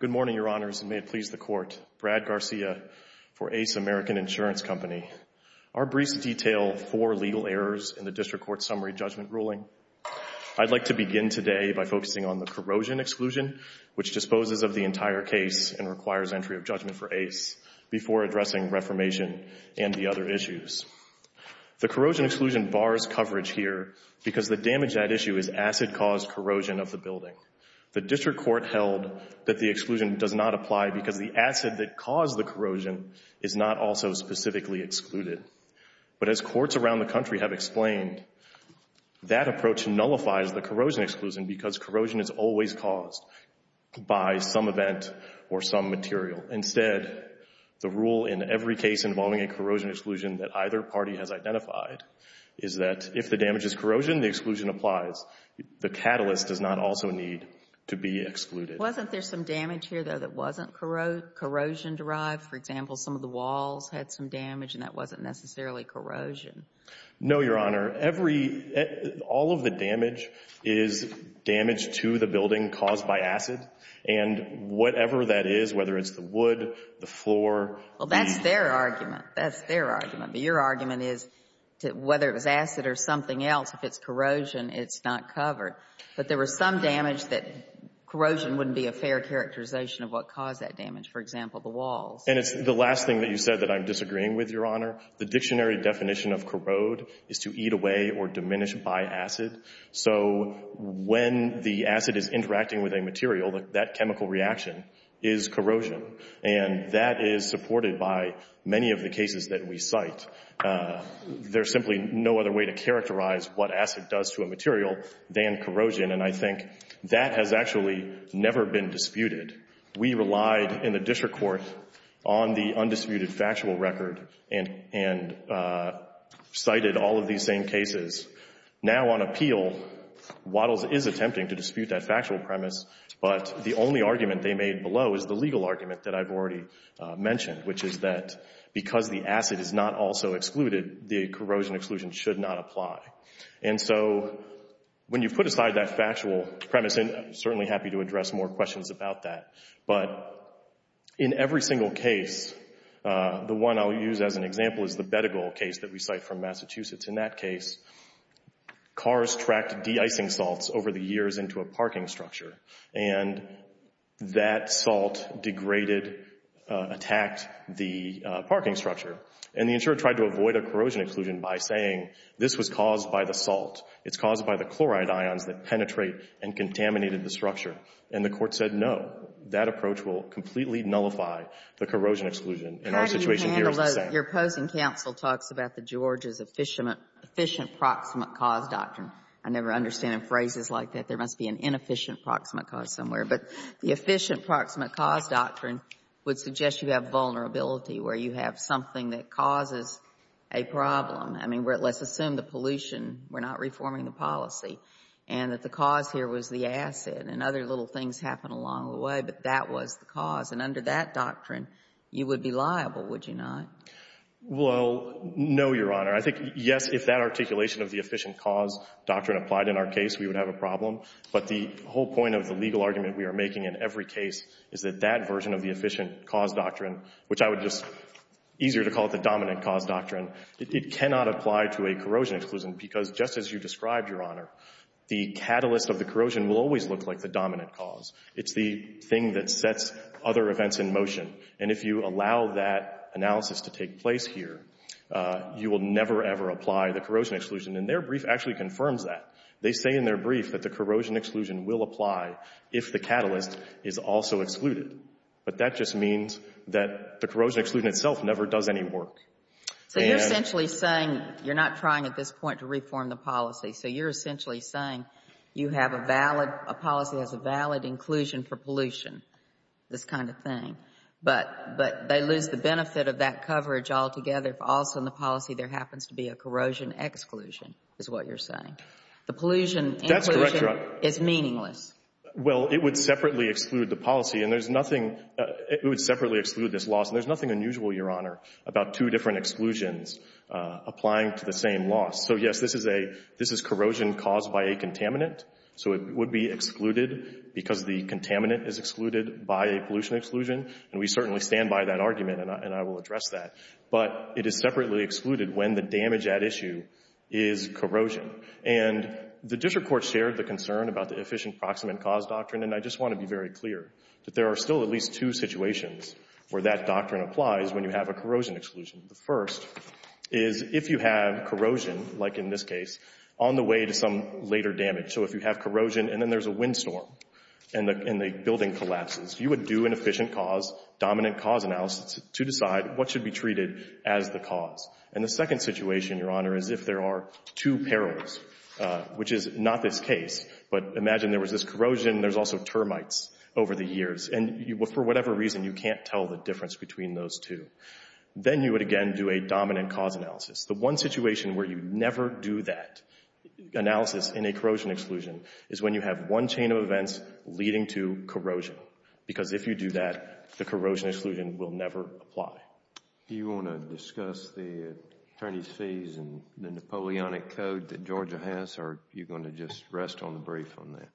Good morning, Your Honors, and may it please the Court. Brad Garcia for Ace American Insurance Company. Our briefs detail four legal errors in the District Court's summary judgment ruling. I'd like to begin today by focusing on the corrosion exclusion, which disposes of the entire case and requires entry of judgment for Ace before addressing reformation and the other issues. The corrosion exclusion bars coverage here because the damage at issue is acid-caused corrosion of the building. The District Court held that the exclusion does not apply because the acid that caused the corrosion is not also specifically excluded. But as courts around the country have explained, that approach nullifies the corrosion exclusion because corrosion is always caused by some event or some material. Instead, the rule in every case involving a corrosion exclusion that either party has identified is that if the damage is corrosion, the exclusion applies. The catalyst does not also need to be excluded. Wasn't there some damage here, though, that wasn't corrosion-derived? For example, some of the walls had some damage, and that wasn't necessarily corrosion. No, Your Honor. Every — all of the damage is damage to the building caused by acid. And whatever that is, whether it's the wood, the floor — Well, that's their argument. That's their argument. But your argument is, whether it was acid or something else, if it's corrosion, it's not covered. But there was some damage that corrosion wouldn't be a fair characterization of what caused that damage, for example, the walls. And it's the last thing that you said that I'm disagreeing with, Your Honor. The dictionary definition of corrode is to eat away or diminish by acid. So when the acid is interacting with a material, that chemical reaction is corrosion. And that is supported by the by many of the cases that we cite. There's simply no other way to characterize what acid does to a material than corrosion. And I think that has actually never been disputed. We relied in the district court on the undisputed factual record and cited all of these same Now, on appeal, Waddles is attempting to dispute that factual premise, but the only argument they made below is the legal argument that I've already mentioned, which is that because the acid is not also excluded, the corrosion exclusion should not apply. And so when you put aside that factual premise — and I'm certainly happy to address more questions about that — but in every single case, the one I'll use as an example is the Bedigal case that we cite from Massachusetts. In that case, cars tracked de-icing salts over the That salt degraded, attacked the parking structure. And the insurer tried to avoid a corrosion exclusion by saying this was caused by the salt. It's caused by the chloride ions that penetrate and contaminated the structure. And the Court said, no, that approach will completely nullify the corrosion exclusion. And our situation here is the same. How do you handle it? Your opposing counsel talks about the Georgia's efficient proximate cause doctrine. I never understand in phrases like that. There must be an inefficient proximate cause somewhere. But the efficient proximate cause doctrine would suggest you have vulnerability, where you have something that causes a problem. I mean, let's assume the pollution, we're not reforming the policy, and that the cause here was the acid. And other little things happen along the way, but that was the cause. And under that doctrine, you would be liable, would you not? Well, no, Your Honor. I think, yes, if that articulation of the efficient cause doctrine applied in our case, we would have a problem. But the whole point of the legal argument we are making in every case is that that version of the efficient cause doctrine, which I would just easier to call it the dominant cause doctrine, it cannot apply to a corrosion exclusion. Because just as you described, Your Honor, the catalyst of the corrosion will always look like the dominant cause. It's the thing that sets other events in motion. And if you allow that analysis to take place here, you will never, ever apply the corrosion exclusion. And their brief actually confirms that. They say in their brief that the corrosion exclusion will apply if the catalyst is also excluded. But that just means that the corrosion exclusion itself never does any work. So you're essentially saying you're not trying at this point to reform the policy. So you're essentially saying you have a valid, a policy that has a valid inclusion for pollution, this kind of thing. But they lose the benefit of that coverage altogether if also in the exclusion, is what you're saying. The pollution inclusion is meaningless. That's correct, Your Honor. Well, it would separately exclude the policy. And there's nothing — it would separately exclude this loss. And there's nothing unusual, Your Honor, about two different exclusions applying to the same loss. So, yes, this is a — this is corrosion caused by a contaminant. So it would be excluded because the contaminant is excluded by a pollution exclusion. And we certainly stand by that argument, and I will address that. But it is separately excluded when the damage at issue is corrosion. And the district court shared the concern about the efficient proximate cause doctrine. And I just want to be very clear that there are still at least two situations where that doctrine applies when you have a corrosion exclusion. The first is if you have corrosion, like in this case, on the way to some later damage. So if you have corrosion and then there's a windstorm and the building collapses, you would do an efficient cause, dominant cause analysis to decide what should be treated as the cause. And the second situation, Your Honor, is if there are two perils, which is not this case, but imagine there was this corrosion and there's also termites over the years. And for whatever reason, you can't tell the difference between those two. Then you would again do a dominant cause analysis. The one situation where you never do that analysis in a corrosion exclusion is when you have one chain of events leading to corrosion because if you do that, the corrosion exclusion will never apply. Do you want to discuss the attorney's fees and the Napoleonic Code that Georgia has or are you going to just rest on the brief on that?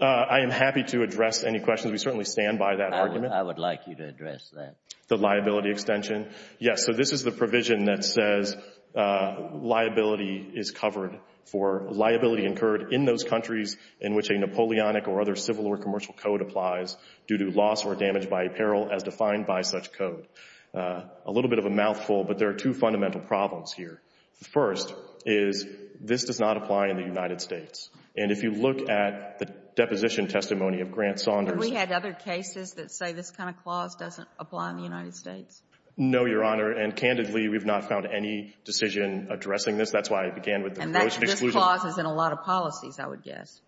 I am happy to address any questions. We certainly stand by that argument. I would like you to address that. The liability extension. Yes, so this is the provision that says liability is covered for liability incurred in those countries in which a Napoleonic or other civil or commercial code applies due to loss or damage by a peril as defined by such code. A little bit of a mouthful, but there are two fundamental problems here. The first is this does not apply in the United States. And if you look at the deposition testimony of Grant Saunders And we had other cases that say this kind of clause doesn't apply in the United States. No, Your Honor. And candidly, we've not found any decision addressing this. That's why I began with the corrosion exclusion. And this clause is in a lot of policies, I would guess.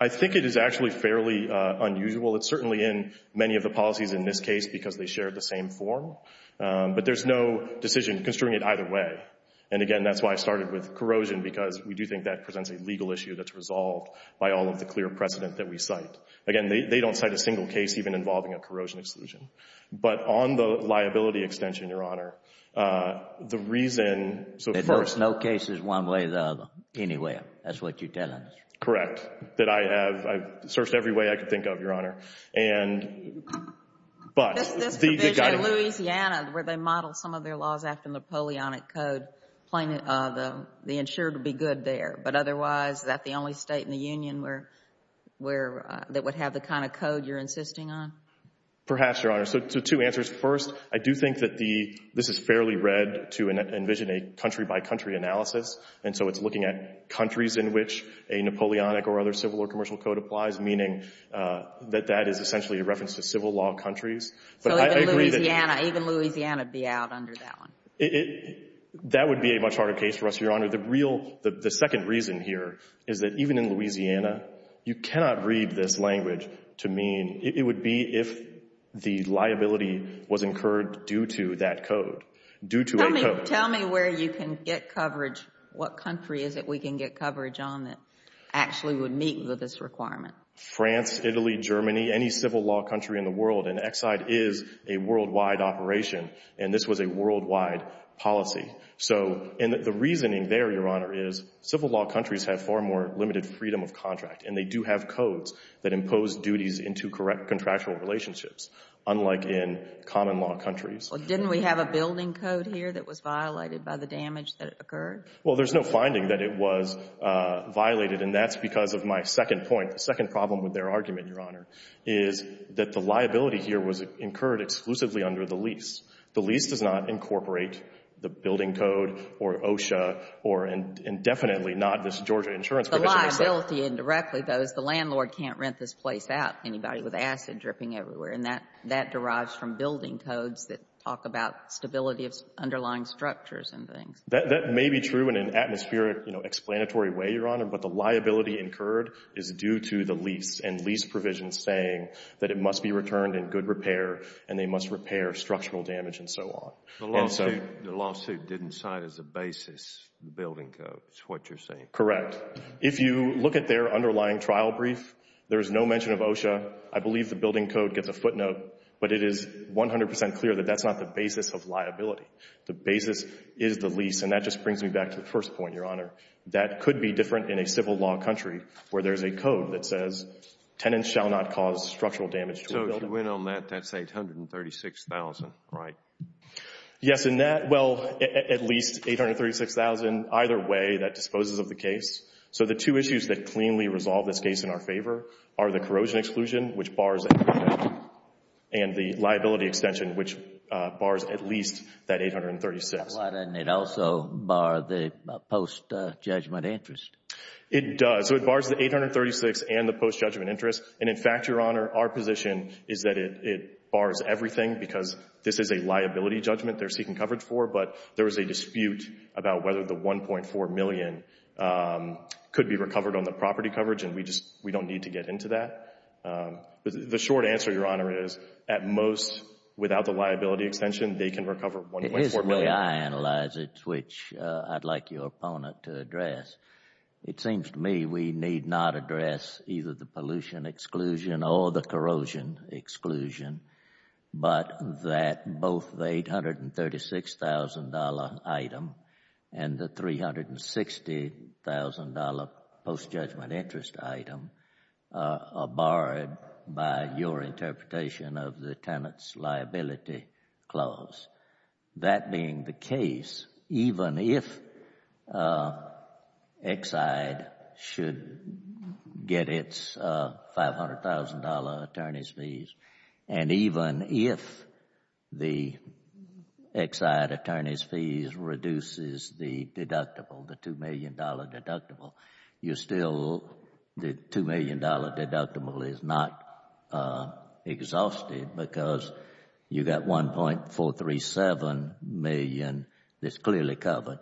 I think it is actually fairly unusual. It's certainly in many of the policies in this case because they share the same form. But there's no decision construing it either way. And again, that's why I started with corrosion, because we do think that presents a legal issue that's resolved by all of the clear precedent that we cite. Again, they don't cite a single case even involving a corrosion exclusion. But on the liability extension, Your Honor, the reason so first There's no cases one way or the other anywhere. That's what you're telling us. Correct. That I have. I've searched every way I could think of, Your Honor. And but This provision in Louisiana, where they model some of their laws after Napoleonic code, plain, the insured would be good there. But otherwise, is that the only state in the Union where that would have the kind of code you're insisting on? Perhaps, Your Honor. So two answers. First, I do think that this is fairly read to envision a country-by-country analysis. And so it's looking at countries in which a Napoleonic or other civil or commercial code applies, meaning that that is essentially a reference to civil law countries. So even Louisiana, even Louisiana would be out under that one. That would be a much harder case for us, Your Honor. The real, the second reason here is that even in Louisiana, you cannot read this language to mean, it would be if the liability was incurred due to that code, due to a code. Tell me where you can get coverage. What country is it we can get coverage on that actually would meet this requirement? France, Italy, Germany, any civil law country in the world. And Exide is a worldwide operation. And this was a worldwide policy. So, and the reasoning there, Your Honor, is civil law countries have far more limited freedom of contract. And they do have codes that impose duties into contractual relationships, unlike in common law countries. Well, didn't we have a building code here that was violated by the damage that occurred? Well, there's no finding that it was violated. And that's because of my second point, the second problem with their argument, Your Honor, is that the liability here was incurred exclusively under the lease. The lease does not incorporate the building code or OSHA or indefinitely not this Georgia insurance provision. The liability indirectly, though, is the landlord can't rent this place out, anybody with acid dripping everywhere. And that derives from building codes that talk about stability of underlying structures and things. That may be true in an atmospheric, you know, explanatory way, Your Honor, but the liability incurred is due to the lease and lease provisions saying that it must be returned in good repair and they must repair structural damage and so on. The lawsuit didn't cite as a basis the building code, is what you're saying. Correct. If you look at their underlying trial brief, there is no mention of OSHA. I believe the building code gets a footnote, but it is 100 percent clear that that's not the basis of liability. The basis is the lease. And that just brings me back to the first point, Your Honor, that could be different in a civil law country where there's a code that says tenants shall not cause structural damage to a building. So if you went on that, that's $836,000, right? Yes. And that, well, at least $836,000 either way that disposes of the case. So the two issues that cleanly resolve this case in our favor are the corrosion exclusion, which bars $836,000, and the liability extension, which bars at least that $836,000. Why doesn't it also bar the post-judgment interest? It does. So it bars the $836,000 and the post-judgment interest. And in fact, Your Honor, our position is that it bars everything because this is a liability judgment they're seeking coverage for, but there is a dispute about whether the $1.4 million could be recovered on the short answer, Your Honor, is at most without the liability extension, they can recover $1.4 million. It is the way I analyze it, which I'd like your opponent to address. It seems to me we need not address either the pollution exclusion or the corrosion exclusion, but that both the $836,000 item and the $360,000 post-judgment interest item are barred by your interpretation of the Tenant's Liability Clause. That being the case, even if Exide should get its $500,000 attorney's fees and even if the Exide attorney's fees reduces the deductible, the $2 million deductible, the $2 million deductible is not exhausted because you've got $1.437 million that's clearly covered.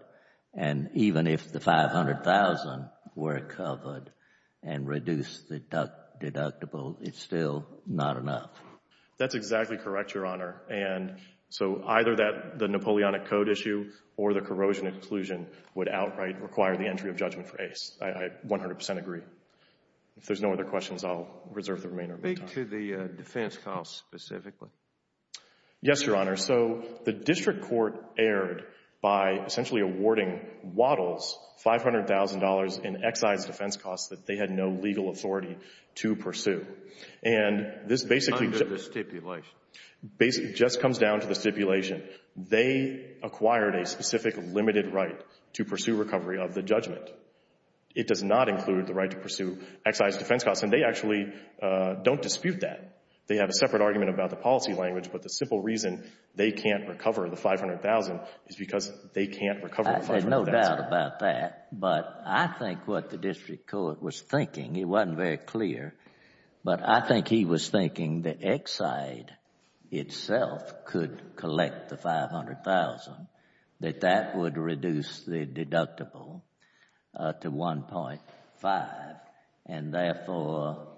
And even if the $500,000 were covered and reduced the deductible, it's still not enough. That's exactly correct, Your Honor. And so either the Napoleonic Code issue or the corrosion exclusion would outright require the entry of judgment for Ace. I 100 percent agree. If there's no other questions, I'll reserve the remainder of my time. Speak to the defense costs specifically. Yes, Your Honor. So the district court erred by essentially awarding Waddles $500,000 in And this basically just comes down to the stipulation. They acquired a specific limited right to pursue recovery of the judgment. It does not include the right to pursue Exide's defense costs. And they actually don't dispute that. They have a separate argument about the policy language. But the simple reason they can't recover the $500,000 is because they can't recover the $500,000. There's no doubt about that. But I think what the district court was thinking, it wasn't very clear, but I think he was thinking that Exide itself could collect the $500,000, that that would reduce the deductible to $1.5 million. And therefore,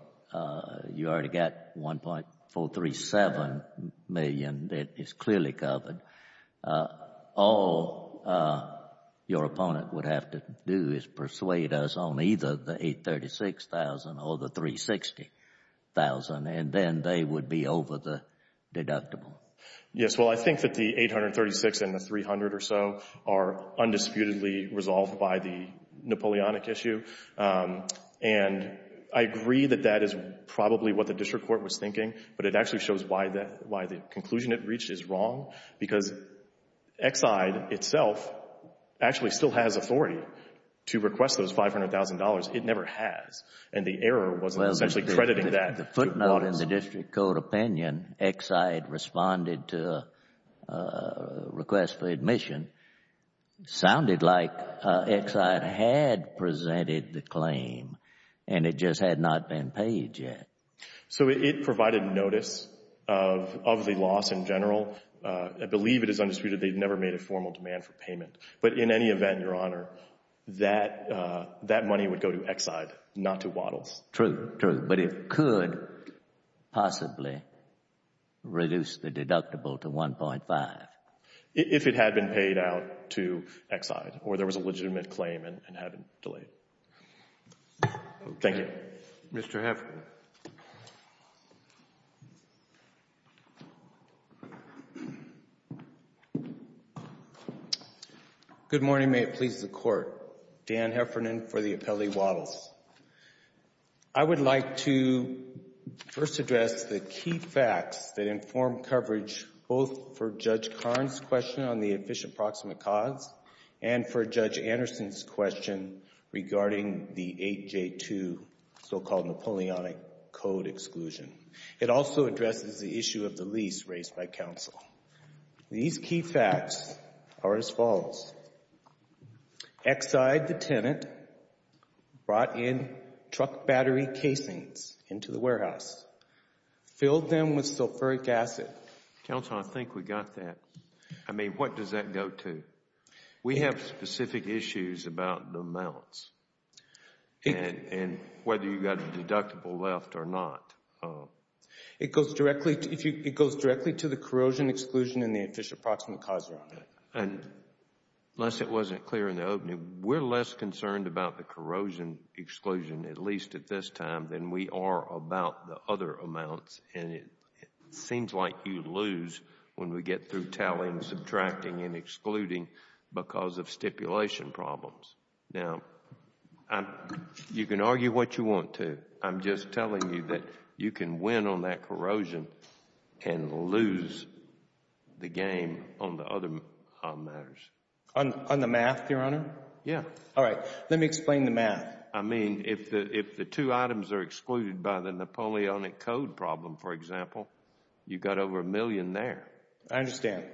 you already got $1.437 million that is clearly covered. All your opponent would have to do is persuade us on either the $836,000 or the $360,000, and then they would be over the deductible. Yes. Well, I think that the $836,000 and the $300,000 or so are undisputedly resolved by the Napoleonic issue. And I agree that that is probably what the district court was thinking, but it actually shows why the conclusion it reached is wrong, because Exide itself actually still has authority to request those $500,000. It never has. And the error was essentially crediting that. Well, the footnote in the district court opinion, Exide responded to a request for admission, sounded like Exide had presented the claim, and it just had not been paid yet. So it provided notice of the loss in general. I believe it is undisputed they have never made a formal demand for payment. But in any event, Your Honor, that money would go to Exide, not to Waddles. True, true. But it could possibly reduce the deductible to $1.5 million. If it had been paid out to Exide, or there was a legitimate claim and it had been delayed. Thank you. Mr. Heffernan. Good morning. May it please the Court. Dan Heffernan for the appellee Waddles. I would like to first address the key facts that inform coverage, both for Judge Karn's question on the efficient proximate cause, and for Judge Anderson's question regarding the 8J2, so-called Napoleonic Code exclusion. It also addresses the issue of the lease raised by counsel. These key facts are as follows. Exide, the tenant, brought in truck battery casings into the warehouse, filled them with sulfuric acid. Counsel, I think we got that. I mean, what does that go to? We have specific issues about the amounts, and whether you got a deductible left or not. It goes directly to the corrosion exclusion and the efficient proximate cause around it. Unless it wasn't clear in the opening, we're less concerned about the corrosion exclusion, at least at this time, than we are about the other amounts, and it seems like you lose when we get through tallying, subtracting, and excluding because of stipulation problems. Now, you can argue what you want to. I'm just telling you that you can win on that corrosion and lose the game on the other matters. On the math, Your Honor? Yeah. All right. Let me explain the math. I mean, if the two items are excluded by the Napoleonic Code problem, for example, you I understand.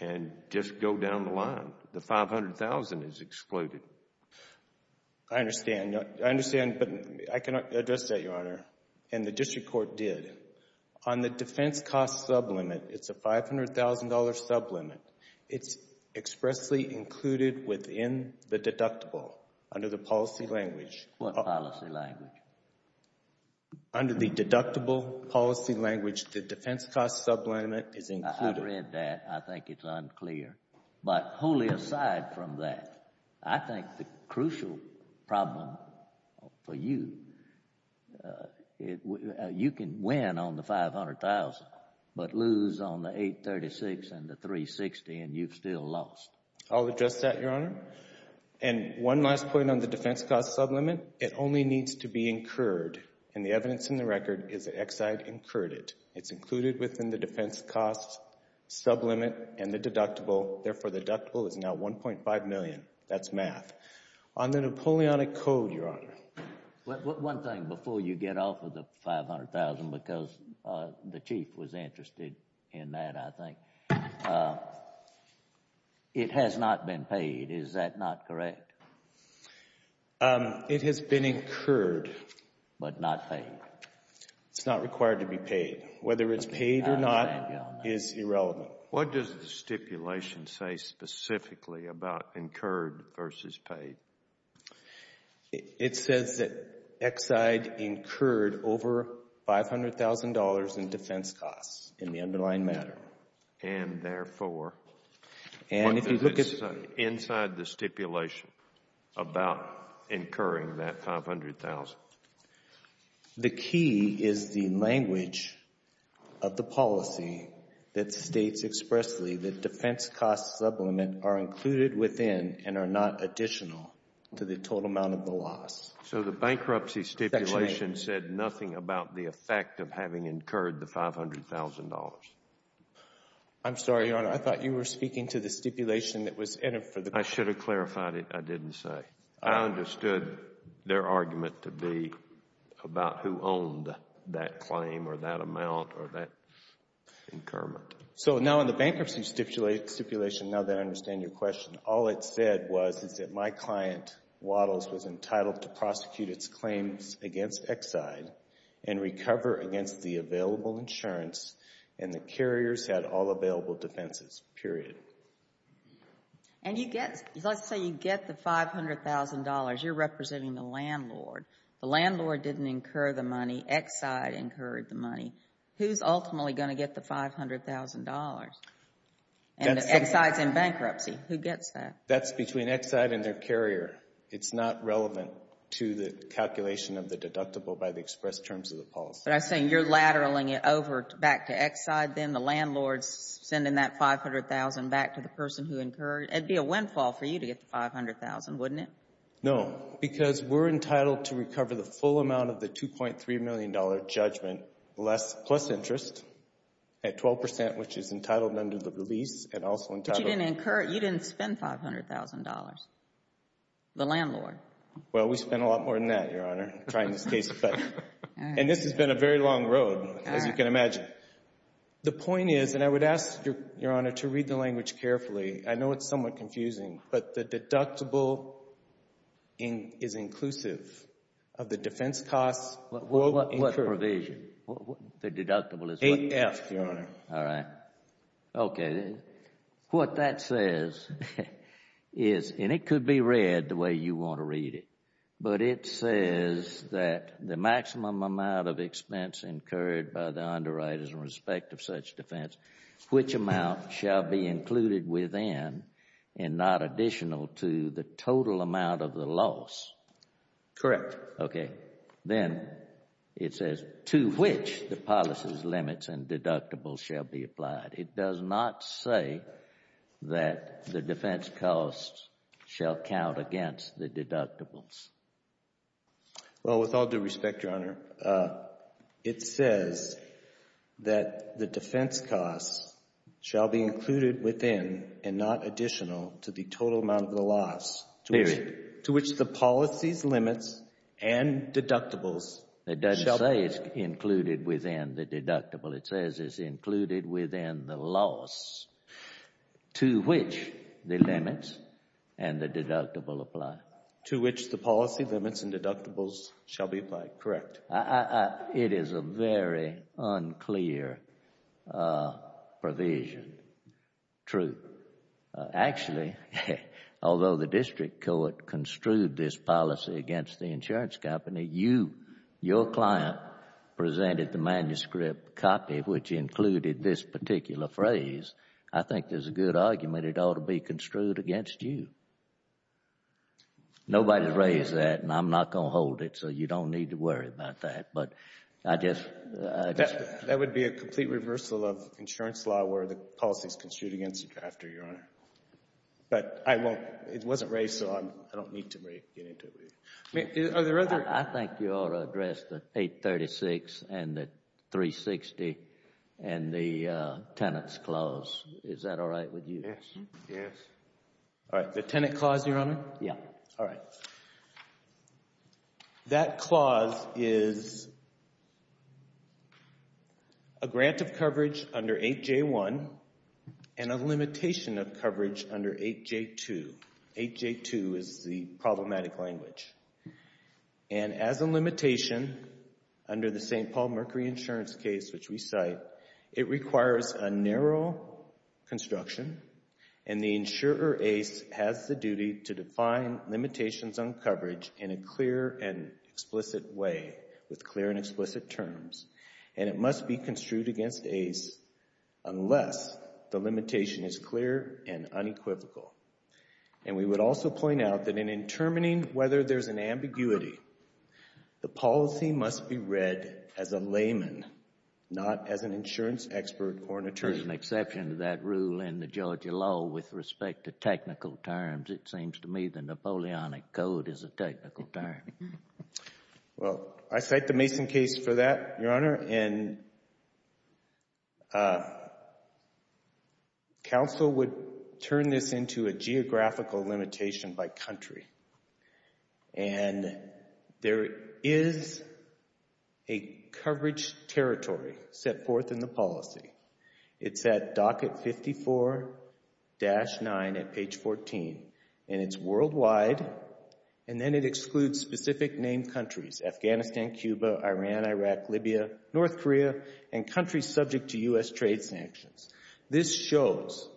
and just go down the line. The $500,000 is excluded. I understand, but I can address that, Your Honor, and the district court did. On the defense cost sublimit, it's a $500,000 sublimit. It's expressly included within the deductible under the policy language. What policy language? Under the deductible policy language, the defense cost sublimit is included. I've read that. I think it's unclear, but wholly aside from that, I think the crucial problem for you, you can win on the $500,000 but lose on the $836,000 and the $360,000 and you've still lost. I'll address that, Your Honor, and one last point on the defense cost sublimit. It only needs to be incurred, and the evidence in the record is that Exide incurred it. It's included within the defense cost sublimit and the deductible, therefore the deductible is now $1.5 million. That's math. On the Napoleonic Code, Your Honor. One thing before you get off of the $500,000, because the Chief was interested in that, I think. It has not been paid. Is that not correct? It has been incurred but not paid. It's not required to be paid. Whether it's paid or not is irrelevant. What does the stipulation say specifically about incurred versus paid? It says that Exide incurred over $500,000 in defense costs in the underlying matter. And therefore, what does it say inside the stipulation? About incurring that $500,000. The key is the language of the policy that states expressly that defense cost sublimit are included within and are not additional to the total amount of the loss. So the bankruptcy stipulation said nothing about the effect of having incurred the $500,000. I'm sorry, Your Honor. I thought you were speaking to the stipulation that was entered for the court. I should have clarified it. I didn't say. I understood their argument to be about who owned that claim or that amount or that incurment. So now in the bankruptcy stipulation, now that I understand your question, all it said was is that my client, Waddles, was entitled to prosecute its claims against Exide and recover against the available insurance and the carriers had all available defenses, period. And you get, let's say you get the $500,000. You're representing the landlord. The landlord didn't incur the money. Exide incurred the money. Who's ultimately going to get the $500,000? And if Exide's in bankruptcy, who gets that? That's between Exide and their carrier. It's not relevant to the calculation of the deductible by the express terms of the policy. But I'm saying you're lateraling it over back to Exide. Then the landlord's sending that $500,000 back to the person who incurred. It'd be a windfall for you to get the $500,000, wouldn't it? No, because we're entitled to recover the full amount of the $2.3 million judgment plus interest at 12 percent, which is entitled under the release and also entitled. But you didn't incur it. You didn't spend $500,000, the landlord. Well, we spent a lot more than that, Your Honor, trying this case. And this has been a very long road, as you can imagine. The point is, and I would ask, Your Honor, to read the language carefully. I know it's somewhat confusing, but the deductible is inclusive of the defense costs. What provision? The deductible is what? AF, Your Honor. All right. Okay. What that says is, and it could be read the way you want to read it, but it says that the maximum amount of expense incurred by the underwriters in respect of such defense, which amount shall be included within and not additional to the total amount of the loss? Correct. Okay. Then it says to which the policy's limits and deductibles shall be applied. It does not say that the defense costs shall count against the deductibles. Well, with all due respect, Your Honor, it says that the defense costs shall be included within and not additional to the total amount of the loss. Period. To which the policy's limits and deductibles shall be... To which the limits and the deductible apply. To which the policy's limits and deductibles shall be applied. Correct. It is a very unclear provision. True. Actually, although the district court construed this policy against the insurance company, your client presented the manuscript copy which included this particular phrase, I think there's a good argument it ought to be construed against you. Nobody raised that, and I'm not going to hold it, so you don't need to worry about that, but I just... That would be a complete reversal of insurance law where the policy is construed against the drafter, Your Honor. But I won't... it wasn't raised, so I don't need to get into it with you. Are there other... I think you ought to address the 836 and the 360 and the tenant's clause. Is that all right with you? Yes. Yes. All right. The tenant clause, Your Honor? Yeah. All right. That clause is a grant of coverage under 8J1 and a limitation of coverage under 8J2. 8J2 is the problematic language. And as a limitation under the St. Paul Mercury insurance case which we cite, it requires a narrow construction, and the insurer, ACE, has the duty to define limitations on coverage in a clear and explicit way with clear and explicit terms. And it must be construed against ACE unless the limitation is clear and unequivocal. And we would also point out that in determining whether there's an ambiguity, the policy must be read as a layman, not as an insurance expert or an attorney. There's an exception to that rule in the Georgia law with respect to technical terms. It seems to me the Napoleonic Code is a technical term. Well, I cite the Mason case for that, Your Honor, and counsel would turn this into a geographical limitation by country. And there is a coverage territory set forth in the policy. It's at docket 54-9 at page 14, and it's worldwide, and then it excludes specific named countries, Afghanistan, Cuba, Iran, Iraq, Libya, North Korea, and countries subject to U.S. trade sanctions. This shows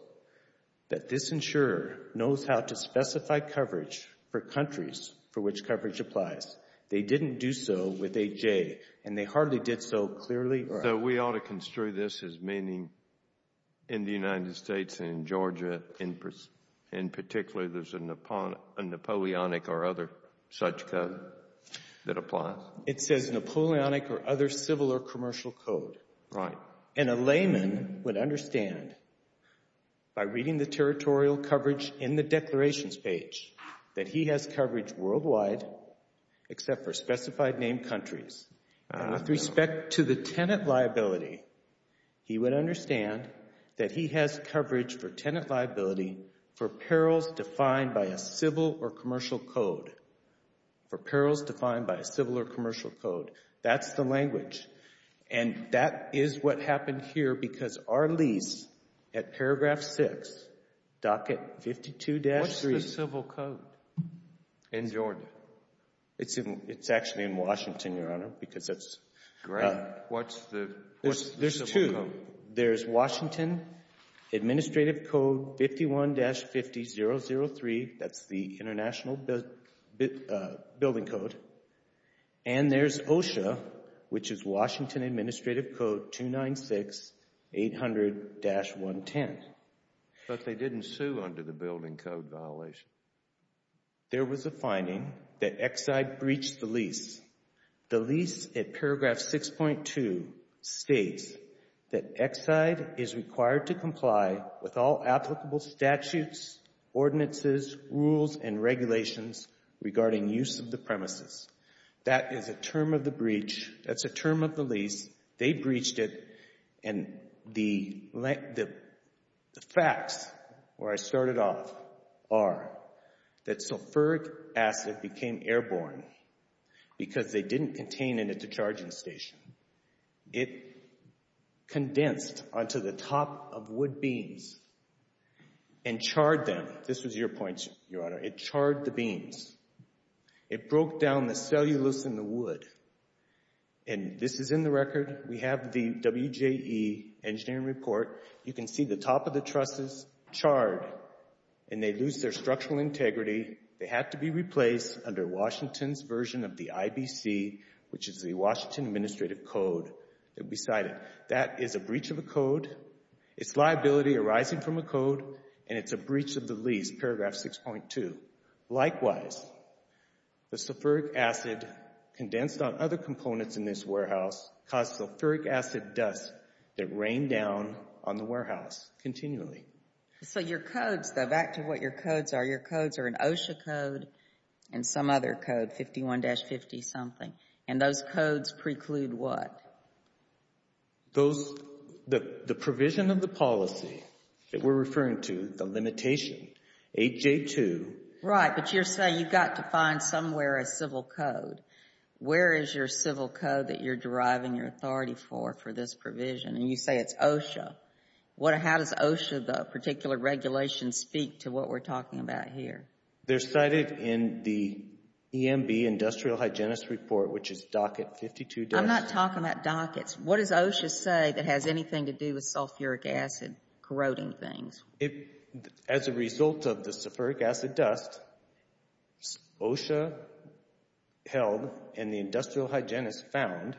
that this insurer knows how to specify coverage for countries for which coverage applies. They didn't do so with 8J, and they hardly did so clearly. So we ought to construe this as meaning in the United States and in Georgia in particular there's a Napoleonic or other such code that applies? It says Napoleonic or other civil or commercial code. Right. And a layman would understand by reading the territorial coverage in the declarations page that he has coverage worldwide except for specified named countries. And with respect to the tenant liability, he would understand that he has coverage for tenant liability for perils defined by a civil or commercial code, for perils defined by a civil or commercial code. That's the language. And that is what happened here because our lease at paragraph 6, docket 52-3 What's the civil code in Georgia? It's actually in Washington, Your Honor, because that's Great. What's the civil code? There's two. There's Washington Administrative Code 51-50-003. That's the International Building Code. And there's OSHA, which is Washington Administrative Code 296-800-110. But they didn't sue under the building code violation. There was a finding that Exide breached the lease. The lease at paragraph 6.2 states that Exide is required to comply with all applicable statutes, ordinances, rules, and regulations regarding use of the premises. That is a term of the breach. That's a term of the lease. They breached it. And the facts where I started off are that sulfuric acid became airborne because they didn't contain it at the charging station. It condensed onto the top of wood beams and charred them. This was your point, Your Honor. It charred the beams. It broke down the cellulose in the wood. And this is in the record. We have the WJE engineering report. You can see the top of the trusses charred, and they lose their structural integrity. They had to be replaced under Washington's version of the IBC, which is the Washington Administrative Code beside it. That is a breach of a code. It's liability arising from a sulfuric acid condensed on other components in this warehouse caused sulfuric acid dust that rained down on the warehouse continually. So your codes, though, back to what your codes are, your codes are an OSHA code and some other code, 51-50 something. And those codes preclude what? The provision of the policy that we're referring to, the limitation, 8J2. Right, but you're saying you've got to find somewhere a civil code. Where is your civil code that you're deriving your authority for for this provision? And you say it's OSHA. How does OSHA, the particular regulation, speak to what we're talking about here? They're cited in the EMB Industrial Hygienist Report, which is docket 52. I'm not talking about dockets. What does OSHA say that has anything to do with sulfuric acid corroding things? As a result of the sulfuric acid dust, OSHA held and the industrial hygienist found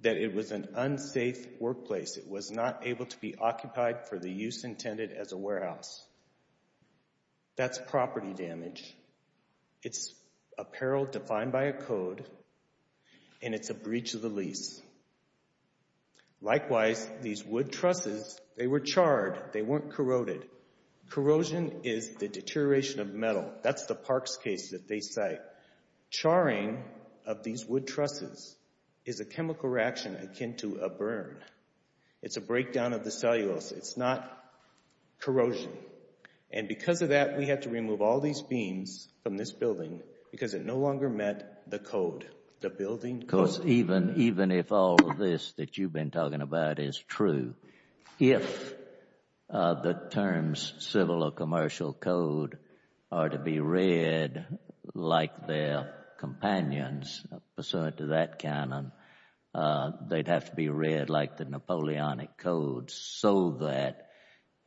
that it was an unsafe workplace. It was not able to be occupied for the use intended as a warehouse. That's property damage. It's apparel defined by a code and it's a breach of the lease. Likewise, these wood trusses, they were charred. They weren't corroded. Corrosion is the deterioration of metal. That's the Parks case that they cite. Charring of these wood trusses is a chemical reaction akin to a burn. It's a breakdown of the cellulose. It's not corrosion. And because of that, we had to remove all these beams from this building because it no longer met the code, the building code. Because even if all of this that you've been talking about is true, if the terms civil or commercial code are to be read like their companions, pursuant to that canon, they'd have to be read like the Napoleonic code so that,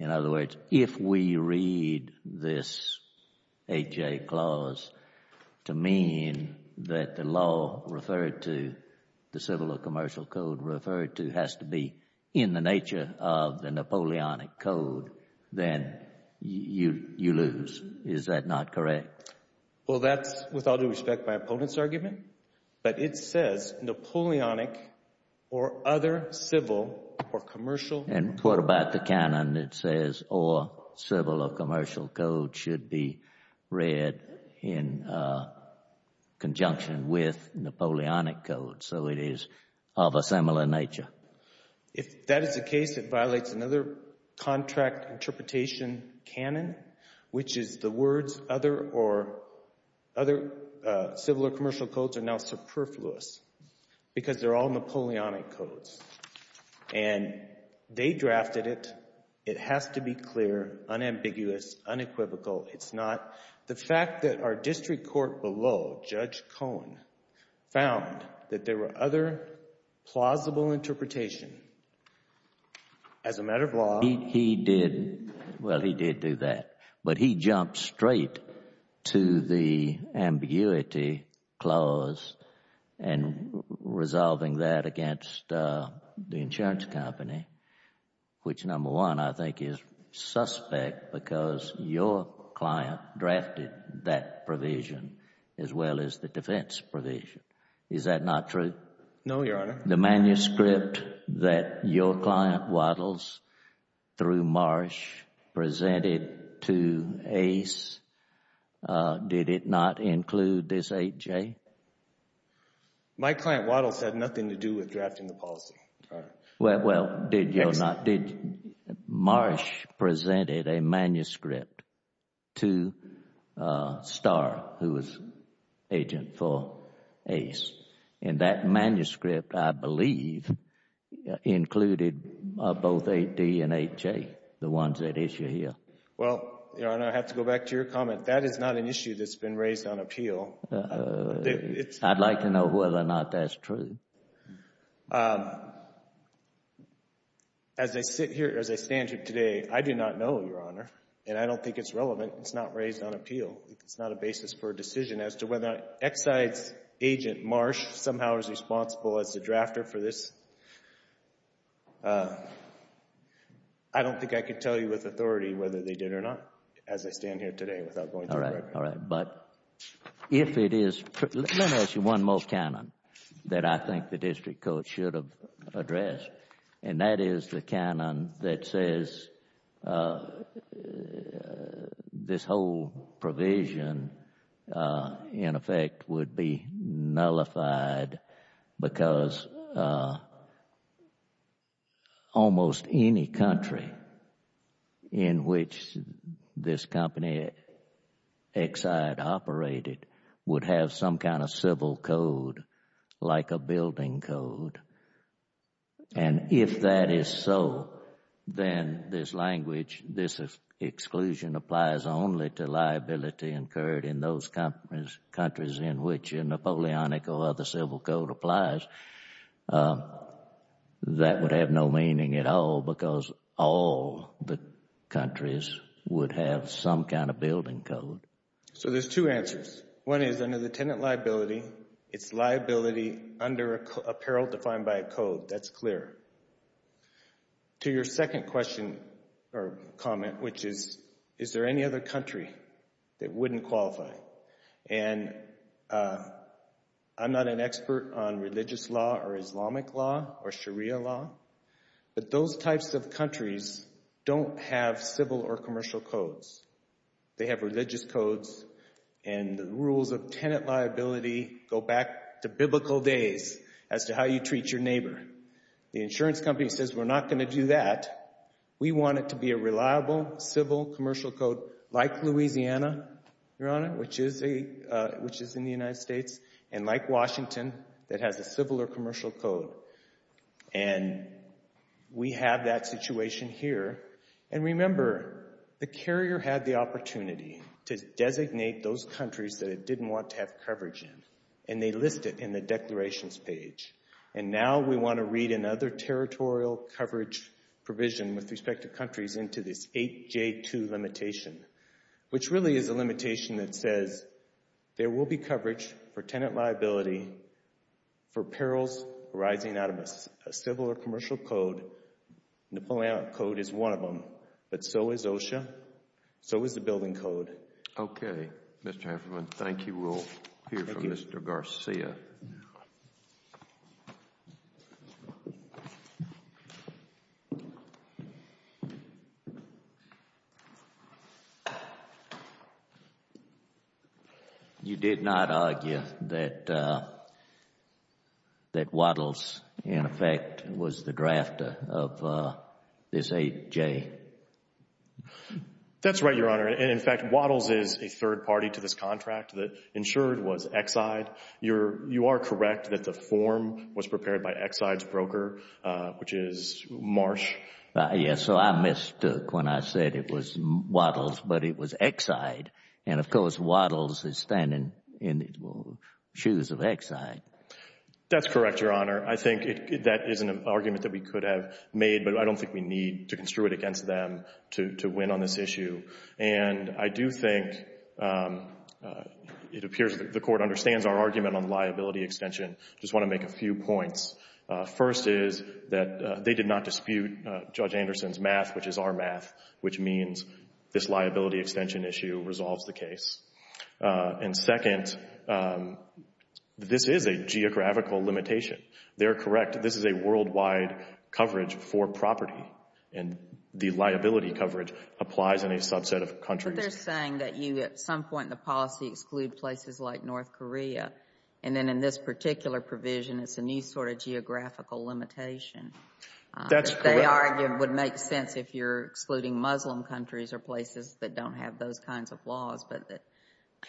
in other words, if we read this HA clause to mean that the law referred to, the civil or commercial code referred to, has to be in the nature of the Napoleonic code, then you lose. Is that not correct? Well, that's, with all due respect, my opponent's argument. But it says Napoleonic or other civil or commercial... conjunction with Napoleonic code. So it is of a similar nature. If that is the case, it violates another contract interpretation canon, which is the words other civil or commercial codes are now superfluous because they're all Napoleonic codes. And they drafted it. It has to be clear, unambiguous, unequivocal. It's not... the fact that our district court below, Judge Cohen, found that there were other plausible interpretations as a matter of law... He did. Well, he did do that. But he jumped straight to the ambiguity clause and resolving that against the insurance company, which, number one, I think is suspect because your client drafted that provision as well as the defense provision. Is that not true? No, Your Honor. The manuscript that your client Waddles through Marsh presented to Ace, did it not include this 8J? My client Waddles had nothing to do with drafting the policy, Your Honor. Well, did your not... Marsh presented a manuscript to Starr, who was agent for Ace. And that manuscript, I believe, included both 8D and 8J, the ones that issue here. Well, Your Honor, I have to go back to your comment. That is not an issue that's been raised on appeal. I'd like to know whether or not that's true. As I sit here, as I stand here today, I do not know, Your Honor. And I don't think it's relevant. It's not raised on appeal. It's not a basis for a decision as to whether Exide's agent, Marsh, somehow is responsible as the drafter for this. I don't think I can tell you with authority whether they did or not, as I stand here today, without going through the record. All right. All right. But if it is... let me ask you one more canon that I think the district court should have addressed, and that is the canon that says this whole provision in effect would be nullified because almost any country in which this company, Exide, operated would have some kind of civil code, like a building code. And if that is so, then to add this language, this exclusion applies only to liability incurred in those countries in which a Napoleonic or other civil code applies. That would have no meaning at all because all the countries would have some kind of building code. So there's two answers. One is under the tenant liability, it's liability under a peril defined by a code. That's clear. To your second question or comment, which is, is there any other country that wouldn't qualify? And I'm not an expert on religious law or Islamic law or Sharia law, but those types of countries don't have civil or commercial codes. They have religious codes, and the insurance company says we're not going to do that. We want it to be a reliable, civil, commercial code like Louisiana, Your Honor, which is in the United States, and like Washington that has a civil or commercial code. And we have that situation here. And remember, the carrier had the opportunity to designate those countries that it didn't want to have coverage in, and they list it in the declarations page. And now we want to read another territorial coverage provision with respect to countries into this 8J2 limitation, which really is a limitation that says there will be coverage for tenant liability for perils arising out of a civil or commercial code. Napoleonic code is one of them, but so is OSHA, so is the building code. Okay. Mr. Hanferman, thank you. We'll hear from Mr. Garcia now. You did not argue that Waddles, in effect, was the drafter of this 8J? That's right, Your Honor. And in fact, Waddles is a third party to this contract that ensured was Exide. You are correct that the form was prepared by Exide's broker, which is Marsh. Yes, so I mistook when I said it was Waddles, but it was Exide. And of course, Waddles is standing in the shoes of Exide. That's correct, Your Honor. I think that is an argument that we could have made, but I don't think we have the capacity as them to win on this issue. And I do think it appears the Court understands our argument on liability extension. I just want to make a few points. First is that they did not dispute Judge Anderson's math, which is our math, which means this liability extension issue resolves the case. And second, this is a geographical limitation. They're correct. This is a worldwide coverage for property, and the liability coverage applies in a subset of countries. But they're saying that you, at some point in the policy, exclude places like North Korea. And then in this particular provision, it's a new sort of geographical limitation. That's correct. They argue it would make sense if you're excluding Muslim countries or places that don't have those kinds of laws. But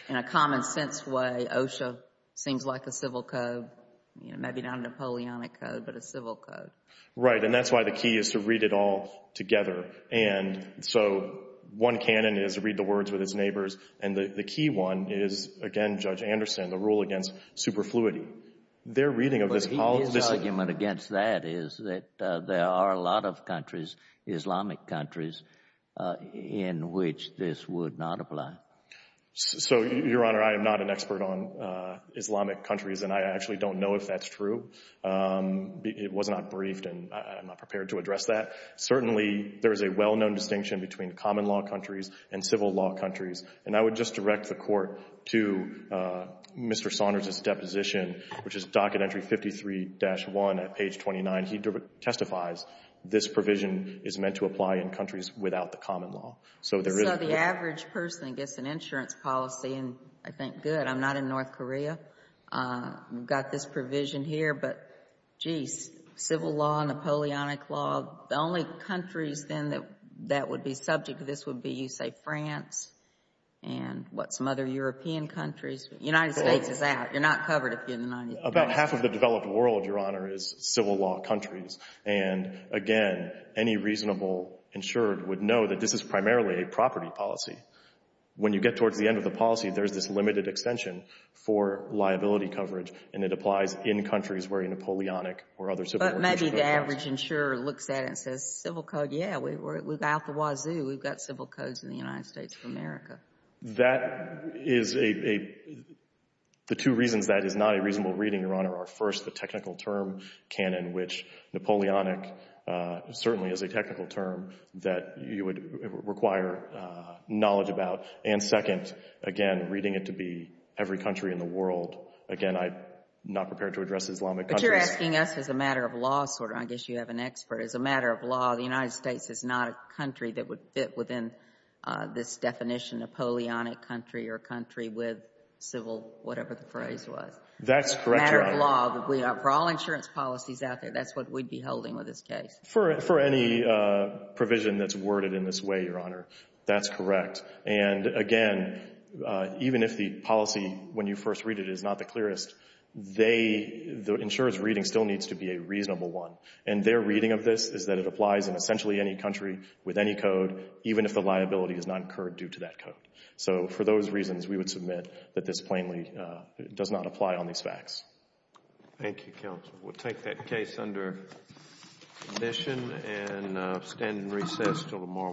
in a common sense way, OSHA seems like a civil code, maybe not a Napoleonic code, but a civil code. Right. And that's why the key is to read it all together. And so one canon is read the words with its neighbors. And the key one is, again, Judge Anderson, the rule against superfluity. Their reading of this policy— But his argument against that is that there are a lot of countries, Islamic countries, in which this would not apply. So, Your Honor, I am not an expert on Islamic countries, and I actually don't know if that's true. It was not briefed, and I'm not prepared to address that. Certainly, there is a well-known distinction between common-law countries and civil-law countries. And I would just direct the Court to Mr. Saunders' deposition, which is docket entry 53-1 at page 29. He testifies this provision is meant to apply in countries without the common law. So there is— Well, you know, the average person gets an insurance policy, and I think, good, I'm not in North Korea. We've got this provision here, but, geez, civil law, Napoleonic law, the only countries, then, that would be subject to this would be, you say, France and, what, some other European countries. The United States is out. You're not covered if you're in the United States. About half of the developed world, Your Honor, is civil-law countries. And, again, any reasonable insurer would know that this is primarily a property policy. When you get towards the end of the policy, there's this limited extension for liability coverage, and it applies in countries where a Napoleonic or other civil law insurance policy— But maybe the average insurer looks at it and says, civil code, yeah, we're out the wazoo. We've got civil codes in the United States of America. That is a — the two reasons that is not a reasonable reading, Your Honor, are, first, the technical term canon, which Napoleonic certainly is a technical term that you would require knowledge about, and, second, again, reading it to be every country in the world. Again, I'm not prepared to address Islamic countries. But you're asking us as a matter of law, sort of. I guess you have an expert. As a matter of law, the United States is not a country that would fit within this definition, Napoleonic country or country with civil whatever the phrase was. That's correct, Your Honor. As a matter of law, for all insurance policies out there, that's what we'd be holding with this case. For any provision that's worded in this way, Your Honor, that's correct. And, again, even if the policy, when you first read it, is not the clearest, they — the insurer's reading still needs to be a reasonable one. And their reading of this is that it applies in essentially any country with any code, even if the liability is not incurred due to that code. So for those reasons, we would submit that this plainly does not apply on these facts. Thank you, Counsel. We'll take that case under addition and stand in recess until tomorrow morning.